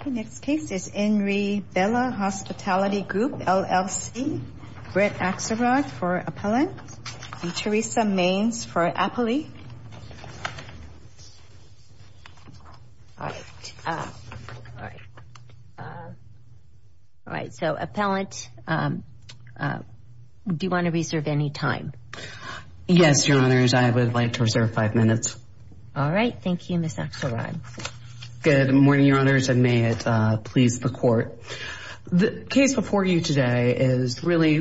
Okay, next case is Enri Bella Hospitality Group, LLC. Britt Axelrod for Appellant. And Theresa Maines for Appley. All right. All right, so, Appellant, do you want to reserve any time? Yes, Your Honors, I would like to reserve five minutes. All right. Thank you, Ms. Axelrod. Good morning, Your Honors, and may it please the Court. The case before you today is really,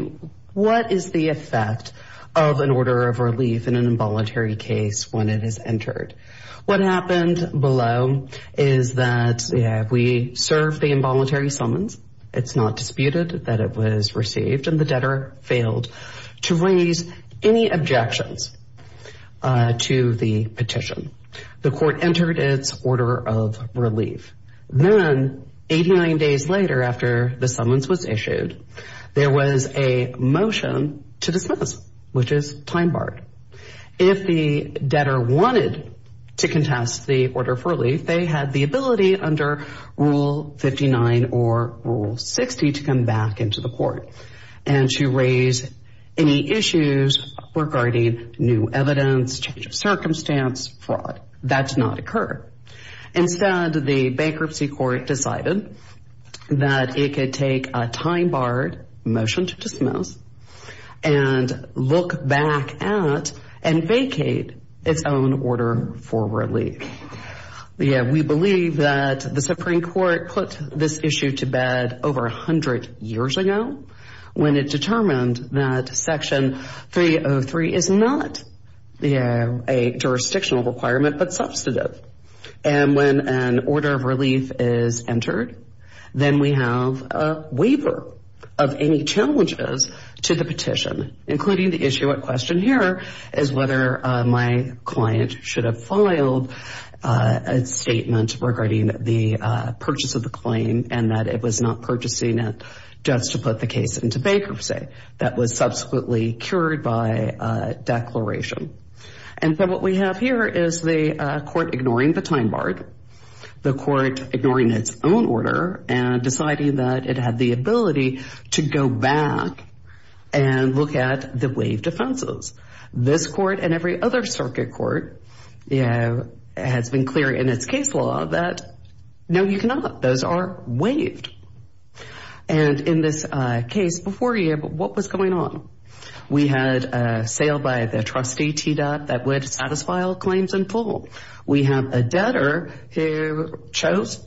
what is the effect of an order of relief in an involuntary case when it is entered? What happened below is that we served the involuntary summons. It's not disputed that it was received, and the debtor failed to raise any objections to the petition. The Court entered its order of relief. Then, 89 days later after the summons was issued, there was a motion to dismiss, which is time barred. If the debtor wanted to contest the order of relief, they had the ability under Rule 59 or Rule 60 to come back into the Court and to raise any issues regarding new evidence, change of circumstance, fraud. That did not occur. Instead, the Bankruptcy Court decided that it could take a time barred motion to dismiss and look back at and vacate its own order for relief. We believe that the Supreme Court put this issue to bed over 100 years ago when it determined that Section 303 is not a jurisdictional requirement but substantive. And when an order of relief is entered, then we have a waiver of any challenges to the petition, including the issue at question here, is whether my client should have filed a statement regarding the purchase of the claim and that it was not purchasing it just to put the case into bankruptcy. That was subsequently cured by declaration. And so what we have here is the Court ignoring the time barred, the Court ignoring its own order, and deciding that it had the ability to go back and look at the waived offenses. This Court and every other circuit court has been clear in its case law that no, you cannot. Those are waived. And in this case before you, what was going on? We had a sale by the trustee TDOT that would satisfy all claims in full. We have a debtor who chose.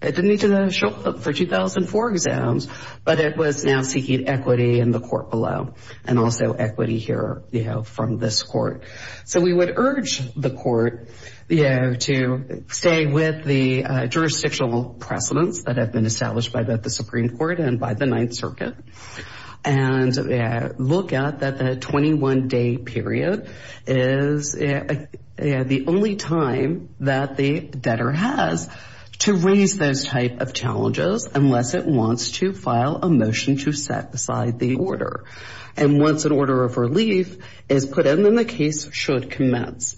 It didn't need to show up for 2004 exams, but it was now seeking equity in the court below and also equity here from this court. So we would urge the court to stay with the jurisdictional precedents that have been established by both the Supreme Court and by the Ninth Circuit and look at that the 21-day period is the only time that the debtor has to raise those type of challenges unless it wants to file a motion to set aside the order. And once an order of relief is put in, then the case should commence.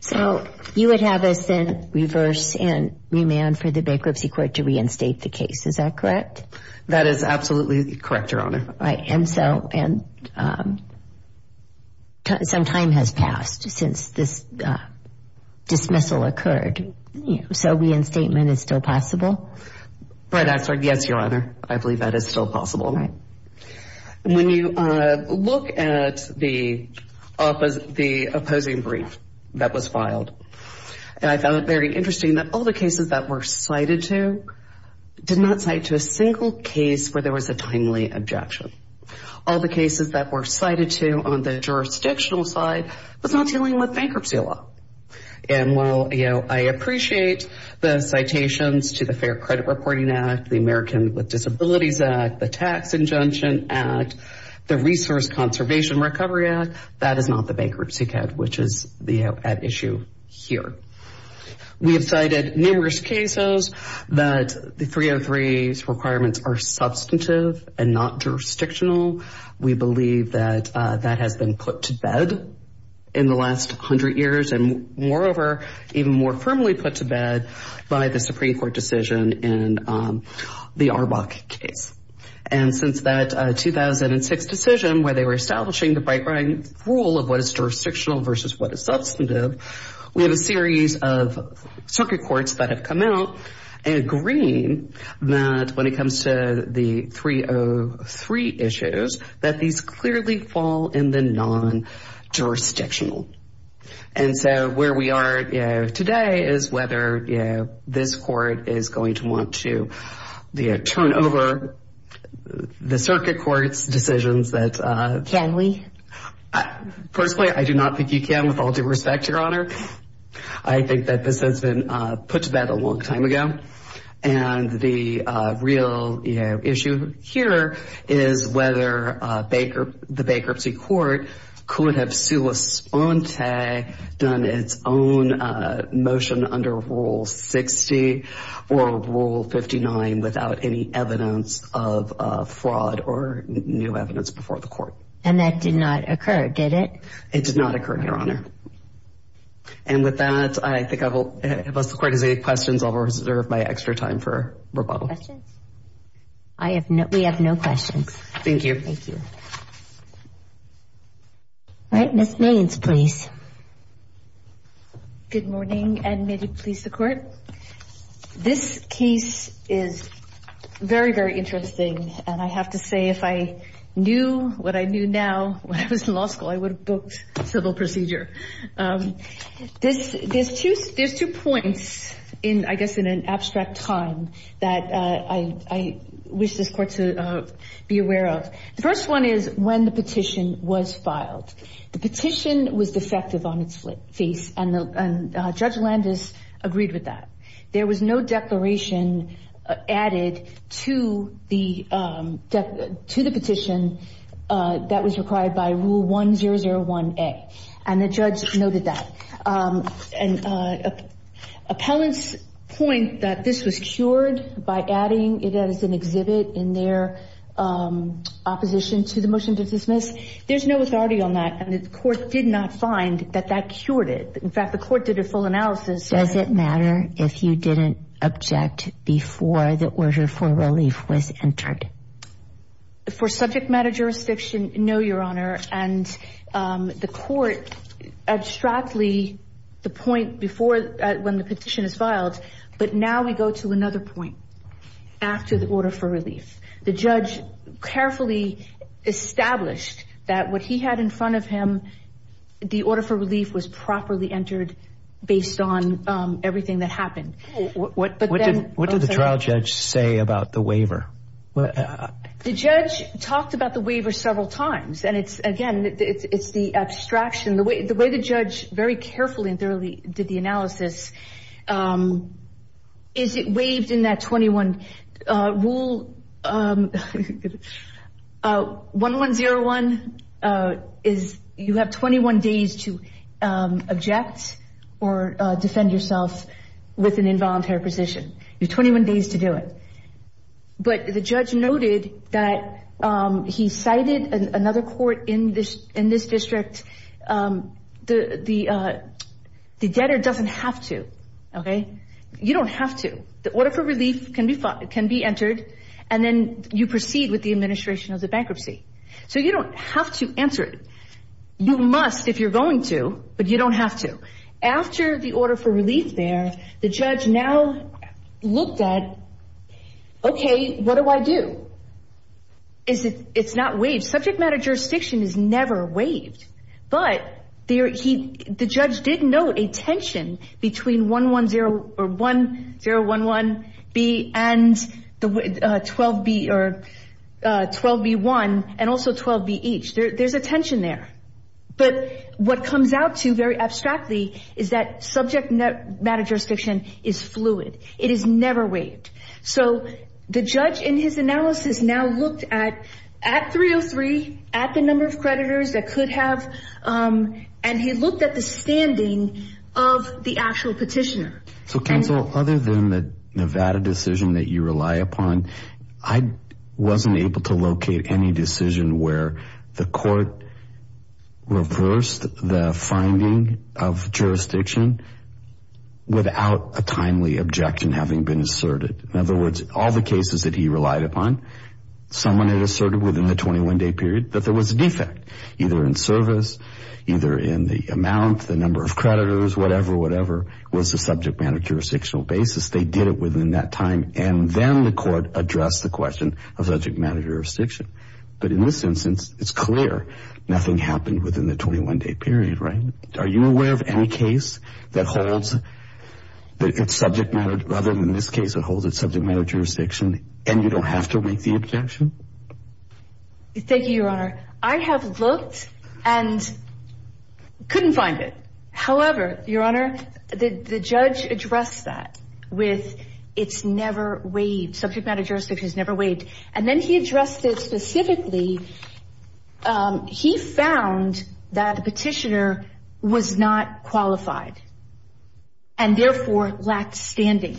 So you would have us then reverse and remand for the bankruptcy court to reinstate the case. Is that correct? That is absolutely correct, Your Honor. And so some time has passed since this dismissal occurred. So reinstatement is still possible? Yes, Your Honor. I believe that is still possible. When you look at the opposing brief that was filed, I found it very interesting that all the cases that were cited to did not cite to a single case where there was a timely objection. All the cases that were cited to on the jurisdictional side was not dealing with bankruptcy law. And while I appreciate the citations to the Fair Credit Reporting Act, the American with Disabilities Act, the Tax Injunction Act, the Resource Conservation Recovery Act, that is not the bankruptcy code which is at issue here. We have cited numerous cases that the 303's requirements are substantive and not jurisdictional. We believe that that has been put to bed in the last 100 years and, moreover, even more firmly put to bed by the Supreme Court decision in the Arbok case. And since that 2006 decision where they were establishing the right-wing rule of what is jurisdictional versus what is substantive, we have a series of circuit courts that have come out agreeing that when it comes to the 303 issues, that these clearly fall in the non-jurisdictional. And so where we are today is whether this court is going to want to turn over the circuit court's decisions that... Can we? Firstly, I do not think you can, with all due respect, Your Honor. I think that this has been put to bed a long time ago. And the real issue here is whether the bankruptcy court could have sui sponte done its own motion under Rule 60 or Rule 59 without any evidence of fraud or new evidence before the court. And that did not occur, did it? It did not occur, Your Honor. And with that, I think I will... Unless the court has any questions, I will reserve my extra time for rebuttal. Questions? We have no questions. Thank you. Thank you. All right, Ms. Mains, please. Good morning, and may it please the Court. This case is very, very interesting. And I have to say, if I knew what I knew now when I was in law school, I would have booked civil procedure. There's two points, I guess, in an abstract time that I wish this Court to be aware of. The first one is when the petition was filed. The petition was defective on its face, and Judge Landis agreed with that. There was no declaration added to the petition that was required by Rule 1001A. And the judge noted that. And appellants point that this was cured by adding it as an exhibit in their opposition to the motion to dismiss. There's no authority on that, and the court did not find that that cured it. In fact, the court did a full analysis. Does it matter if you didn't object before the order for relief was entered? For subject matter jurisdiction, no, Your Honor. And the court abstractly, the point before when the petition is filed, but now we go to another point after the order for relief. The judge carefully established that what he had in front of him, the order for relief was properly entered based on everything that happened. What did the trial judge say about the waiver? The judge talked about the waiver several times, and it's, again, it's the abstraction. The way the judge very carefully and thoroughly did the analysis is it waived in that 21 rule. 1101 is you have 21 days to object or defend yourself with an involuntary position. You have 21 days to do it. But the judge noted that he cited another court in this district. The debtor doesn't have to, okay? You don't have to. The order for relief can be entered, and then you proceed with the administration of the bankruptcy. So you don't have to answer it. You must if you're going to, but you don't have to. After the order for relief there, the judge now looked at, okay, what do I do? It's not waived. Subject matter jurisdiction is never waived, but the judge did note a tension between 11011B and 12B1 and also 12BH. There's a tension there. But what comes out to very abstractly is that subject matter jurisdiction is fluid. It is never waived. So the judge in his analysis now looked at 303, at the number of creditors that could have, and he looked at the standing of the actual petitioner. So, counsel, other than the Nevada decision that you rely upon, I wasn't able to locate any decision where the court reversed the finding of jurisdiction without a timely objection having been asserted. In other words, all the cases that he relied upon, someone had asserted within the 21-day period that there was a defect, either in service, either in the amount, the number of creditors, whatever, whatever, was the subject matter jurisdictional basis. They did it within that time, and then the court addressed the question of subject matter jurisdiction. But in this instance, it's clear nothing happened within the 21-day period, right? Are you aware of any case that holds that it's subject matter, other than this case, that holds it subject matter jurisdiction and you don't have to make the objection? Thank you, Your Honor. I have looked and couldn't find it. However, Your Honor, the judge addressed that with it's never waived, subject matter jurisdiction is never waived. And then he addressed it specifically. He found that the petitioner was not qualified and, therefore, lacked standing.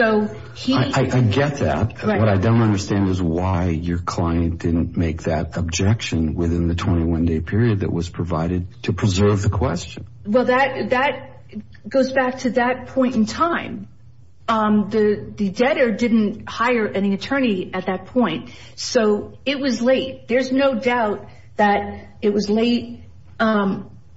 I get that. What I don't understand is why your client didn't make that objection within the 21-day period that was provided to preserve the question. Well, that goes back to that point in time. The debtor didn't hire any attorney at that point, so it was late. There's no doubt that it was late.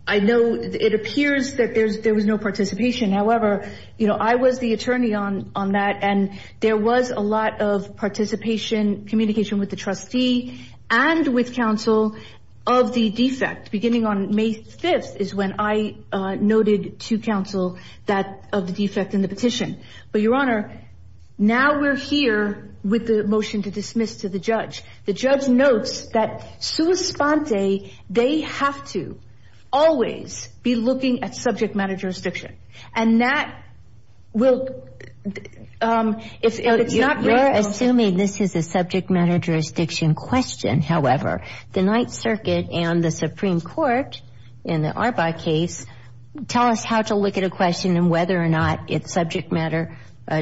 I know it appears that there was no participation. However, I was the attorney on that, and there was a lot of participation, communication with the trustee, and with counsel of the defect. Beginning on May 5th is when I noted to counsel that of the defect in the petition. But, Your Honor, now we're here with the motion to dismiss to the judge. The judge notes that, sua sponte, they have to always be looking at subject matter jurisdiction. And that will – if it's not – You're assuming this is a subject matter jurisdiction question, however. The Ninth Circuit and the Supreme Court, in the Arbaugh case, tell us how to look at a question and whether or not it's subject matter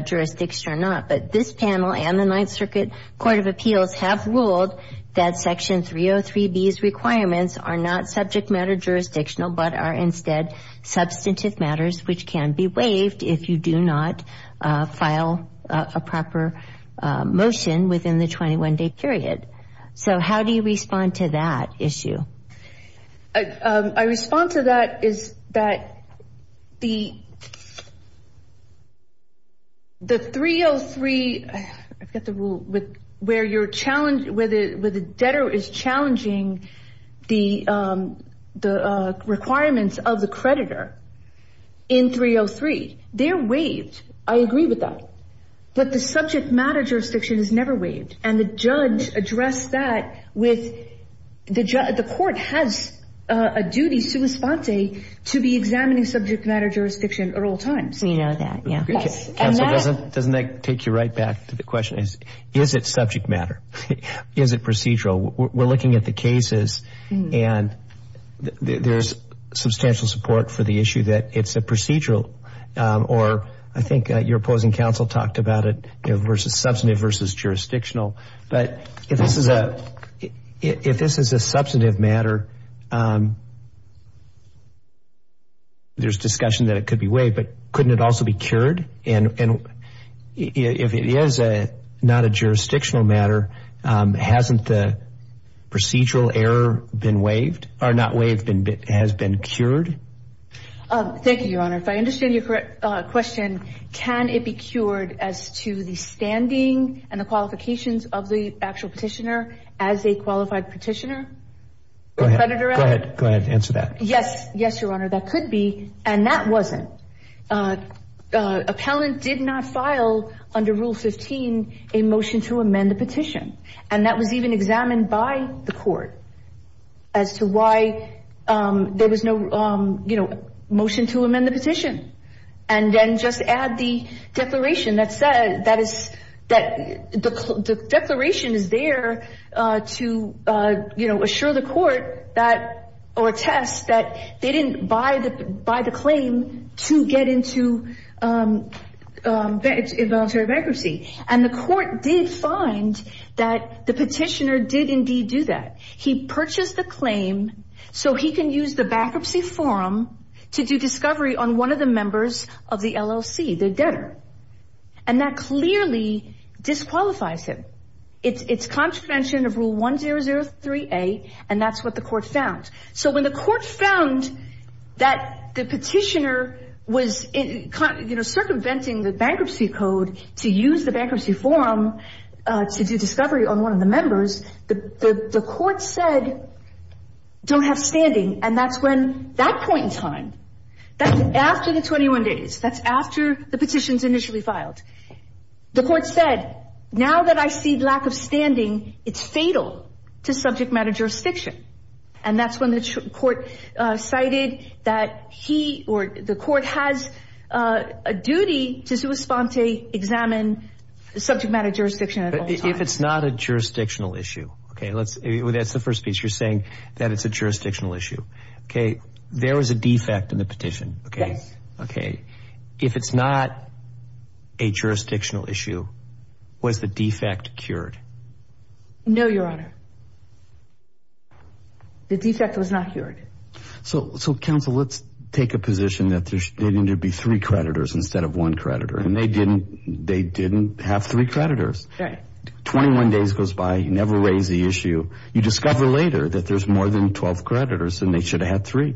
jurisdiction or not. But this panel and the Ninth Circuit Court of Appeals have ruled that Section 303B's requirements are not subject matter jurisdictional, but are instead substantive matters which can be waived if you do not file a proper motion within the 21-day period. So how do you respond to that issue? My response to that is that the 303 – I forgot the rule – where you're – where the debtor is challenging the requirements of the creditor in 303, they're waived. I agree with that. But the subject matter jurisdiction is never waived. And the judge addressed that with – the court has a duty, sua sponte, to be examining subject matter jurisdiction at all times. We know that, yeah. Counsel, doesn't that take you right back to the question? Is it subject matter? Is it procedural? We're looking at the cases and there's substantial support for the issue that it's a procedural. Or I think your opposing counsel talked about it versus substantive versus jurisdictional. But if this is a substantive matter, there's discussion that it could be waived. But couldn't it also be cured? And if it is not a jurisdictional matter, hasn't the procedural error been waived – or not waived, but has been cured? Thank you, Your Honor. If I understand your question, can it be cured as to the standing and the qualifications of the actual petitioner as a qualified petitioner? Go ahead. Go ahead. Answer that. Yes. Yes, Your Honor. That could be. And that wasn't. Appellant did not file under Rule 15 a motion to amend the petition. And that was even examined by the court as to why there was no, you know, motion to amend the petition. And then just add the declaration that said – that is – the declaration is there to, you know, assure the court that – or attest that they didn't buy the claim to get into voluntary bankruptcy. And the court did find that the petitioner did indeed do that. He purchased the claim so he can use the bankruptcy forum to do discovery on one of the members of the LLC, the debtor. And that clearly disqualifies him. It's contravention of Rule 1003A, and that's what the court found. So when the court found that the petitioner was, you know, circumventing the bankruptcy code to use the bankruptcy forum to do discovery on one of the members, the court said, don't have standing, and that's when – that point in time, that's after the 21 days. That's after the petition's initially filed. The court said, now that I see lack of standing, it's fatal to subject matter jurisdiction. And that's when the court cited that he – or the court has a duty to sui sponte, examine subject matter jurisdiction at all times. If it's not a jurisdictional issue – okay, let's – that's the first piece. You're saying that it's a jurisdictional issue. Okay, there was a defect in the petition. Yes. Okay. If it's not a jurisdictional issue, was the defect cured? No, Your Honor. The defect was not cured. So, counsel, let's take a position that there needed to be three creditors instead of one creditor, and they didn't – they didn't have three creditors. Right. Twenty-one days goes by, you never raise the issue. You discover later that there's more than 12 creditors, and they should have had three.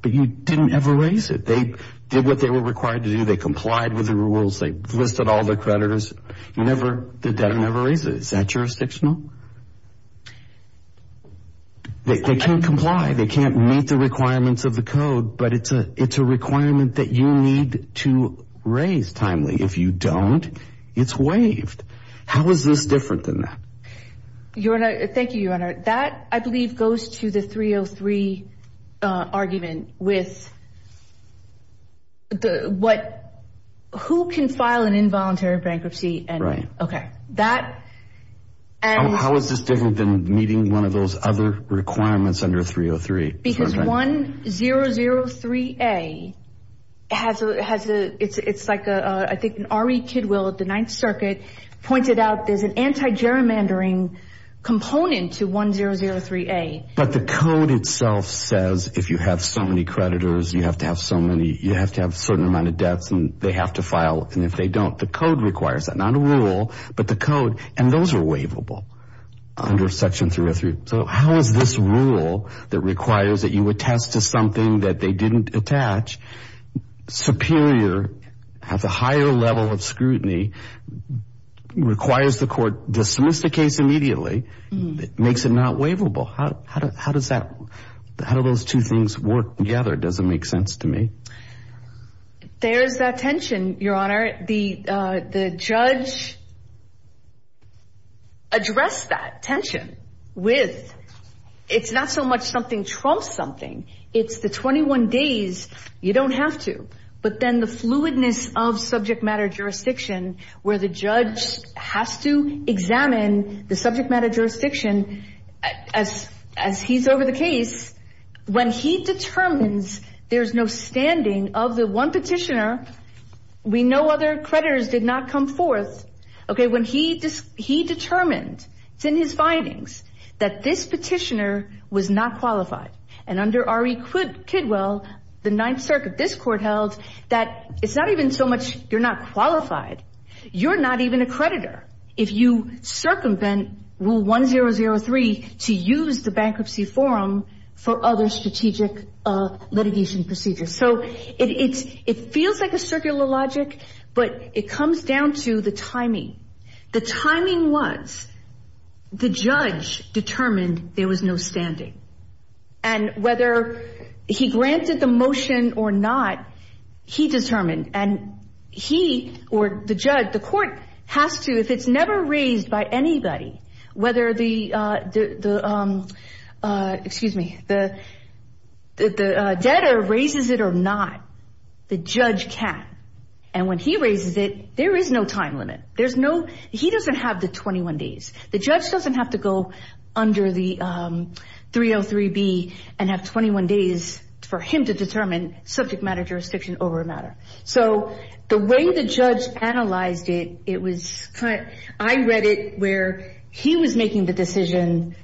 But you didn't ever raise it. They did what they were required to do. They complied with the rules. They listed all the creditors. You never – they never raised it. Is that jurisdictional? They can't comply. They can't meet the requirements of the code, but it's a requirement that you need to raise timely. If you don't, it's waived. How is this different than that? Your Honor – thank you, Your Honor. That, I believe, goes to the 303 argument with what – who can file an involuntary bankruptcy and – Right. Okay. That – and – How is this different than meeting one of those other requirements under 303? Because 1003A has a – it's like a – I think an R.E. Kidwell at the Ninth Circuit pointed out there's an anti-gerrymandering component to 1003A. But the code itself says if you have so many creditors, you have to have so many – you have to have a certain amount of debts, and they have to file. And if they don't, the code requires that – not a rule, but the code. And those are waivable under Section 303. So how is this rule that requires that you attest to something that they didn't attach superior – has a higher level of scrutiny, requires the court dismiss the case immediately, makes it not waivable? How does that – how do those two things work together? It doesn't make sense to me. There's that tension, Your Honor. The judge addressed that tension with it's not so much something trumps something. It's the 21 days you don't have to. But then the fluidness of subject matter jurisdiction where the judge has to examine the subject matter jurisdiction as he's over the case. When he determines there's no standing of the one petitioner, we know other creditors did not come forth. Okay, when he determined – it's in his findings – that this petitioner was not qualified. And under R.E. Kidwell, the Ninth Circuit, this court held that it's not even so much you're not qualified, you're not even a creditor. If you circumvent Rule 1003 to use the bankruptcy forum for other strategic litigation procedures. So it feels like a circular logic, but it comes down to the timing. The timing was the judge determined there was no standing. And whether he granted the motion or not, he determined. And he or the judge, the court has to, if it's never raised by anybody, whether the debtor raises it or not, the judge can. And when he raises it, there is no time limit. He doesn't have the 21 days. The judge doesn't have to go under the 303B and have 21 days for him to determine subject matter jurisdiction over a matter. So the way the judge analyzed it, it was – I read it where he was making the decision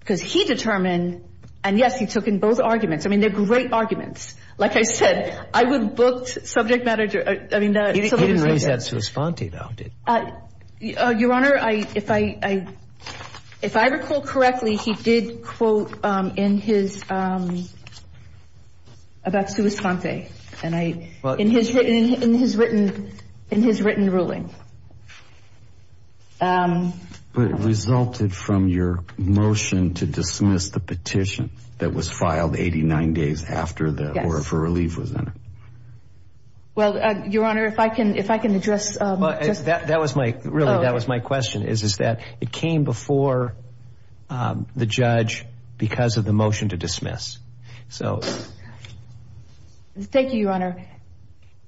because he determined. And, yes, he took in both arguments. I mean, they're great arguments. Like I said, I would book subject matter – I mean, the – He didn't raise that sua sponte, though, did he? Your Honor, if I recall correctly, he did quote in his – about sua sponte in his written ruling. But it resulted from your motion to dismiss the petition that was filed 89 days after the – or if a relief was in it. Well, Your Honor, if I can address – That was my – really, that was my question, is that it came before the judge because of the motion to dismiss. So – Thank you, Your Honor.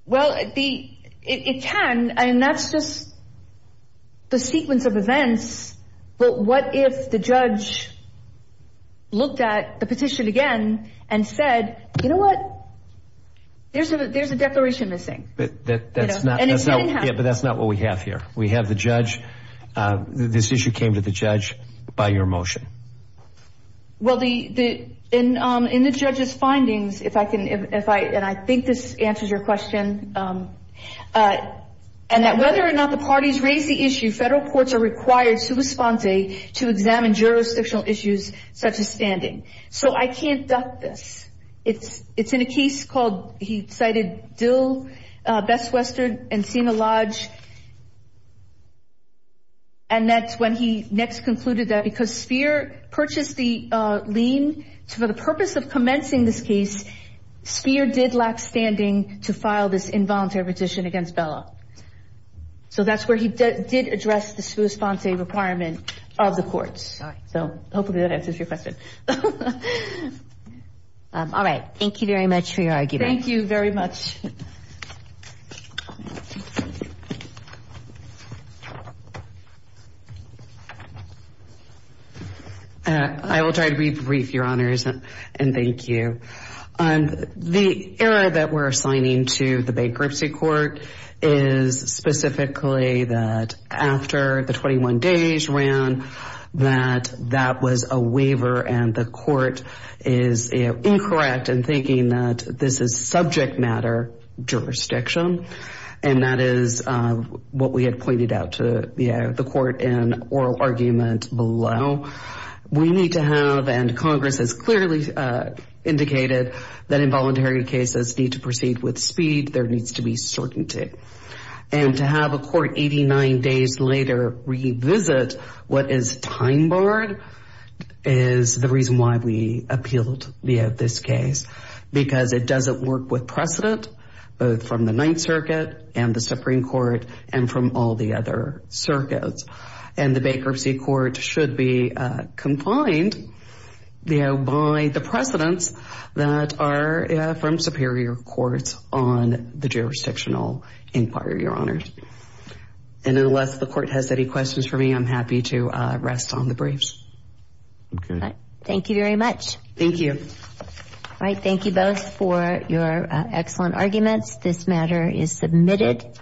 Well, the – it can, and that's just the sequence of events. But what if the judge looked at the petition again and said, you know what, there's a declaration missing? That's not – And it didn't happen. Yeah, but that's not what we have here. We have the judge – this issue came to the judge by your motion. Well, the – in the judge's findings, if I can – and I think this answers your question. And that whether or not the parties raise the issue, federal courts are required sua sponte to examine jurisdictional issues such as standing. So I can't duck this. It's in a case called – he cited Dill, Best Western, and Sina Lodge. And that's when he next concluded that because Spheer purchased the lien for the purpose of commencing this case, Spheer did lack standing to file this involuntary petition against Bella. So that's where he did address the sua sponte requirement of the courts. So hopefully that answers your question. All right. Thank you very much for your argument. Thank you very much. Thank you. I will try to be brief, Your Honors, and thank you. The error that we're assigning to the bankruptcy court is specifically that after the 21 days ran, that that was a waiver. And the court is incorrect in thinking that this is subject matter jurisdiction. And that is what we had pointed out to the court in oral argument below. We need to have – and Congress has clearly indicated that involuntary cases need to proceed with speed. There needs to be certainty. And to have a court 89 days later revisit what is time barred is the reason why we appealed this case. Because it doesn't work with precedent, both from the Ninth Circuit and the Supreme Court and from all the other circuits. And the bankruptcy court should be confined by the precedents that are from superior courts on the jurisdictional inquiry, Your Honors. And unless the court has any questions for me, I'm happy to rest on the briefs. Okay. Thank you very much. Thank you. All right. Thank you both for your excellent arguments. This matter is submitted.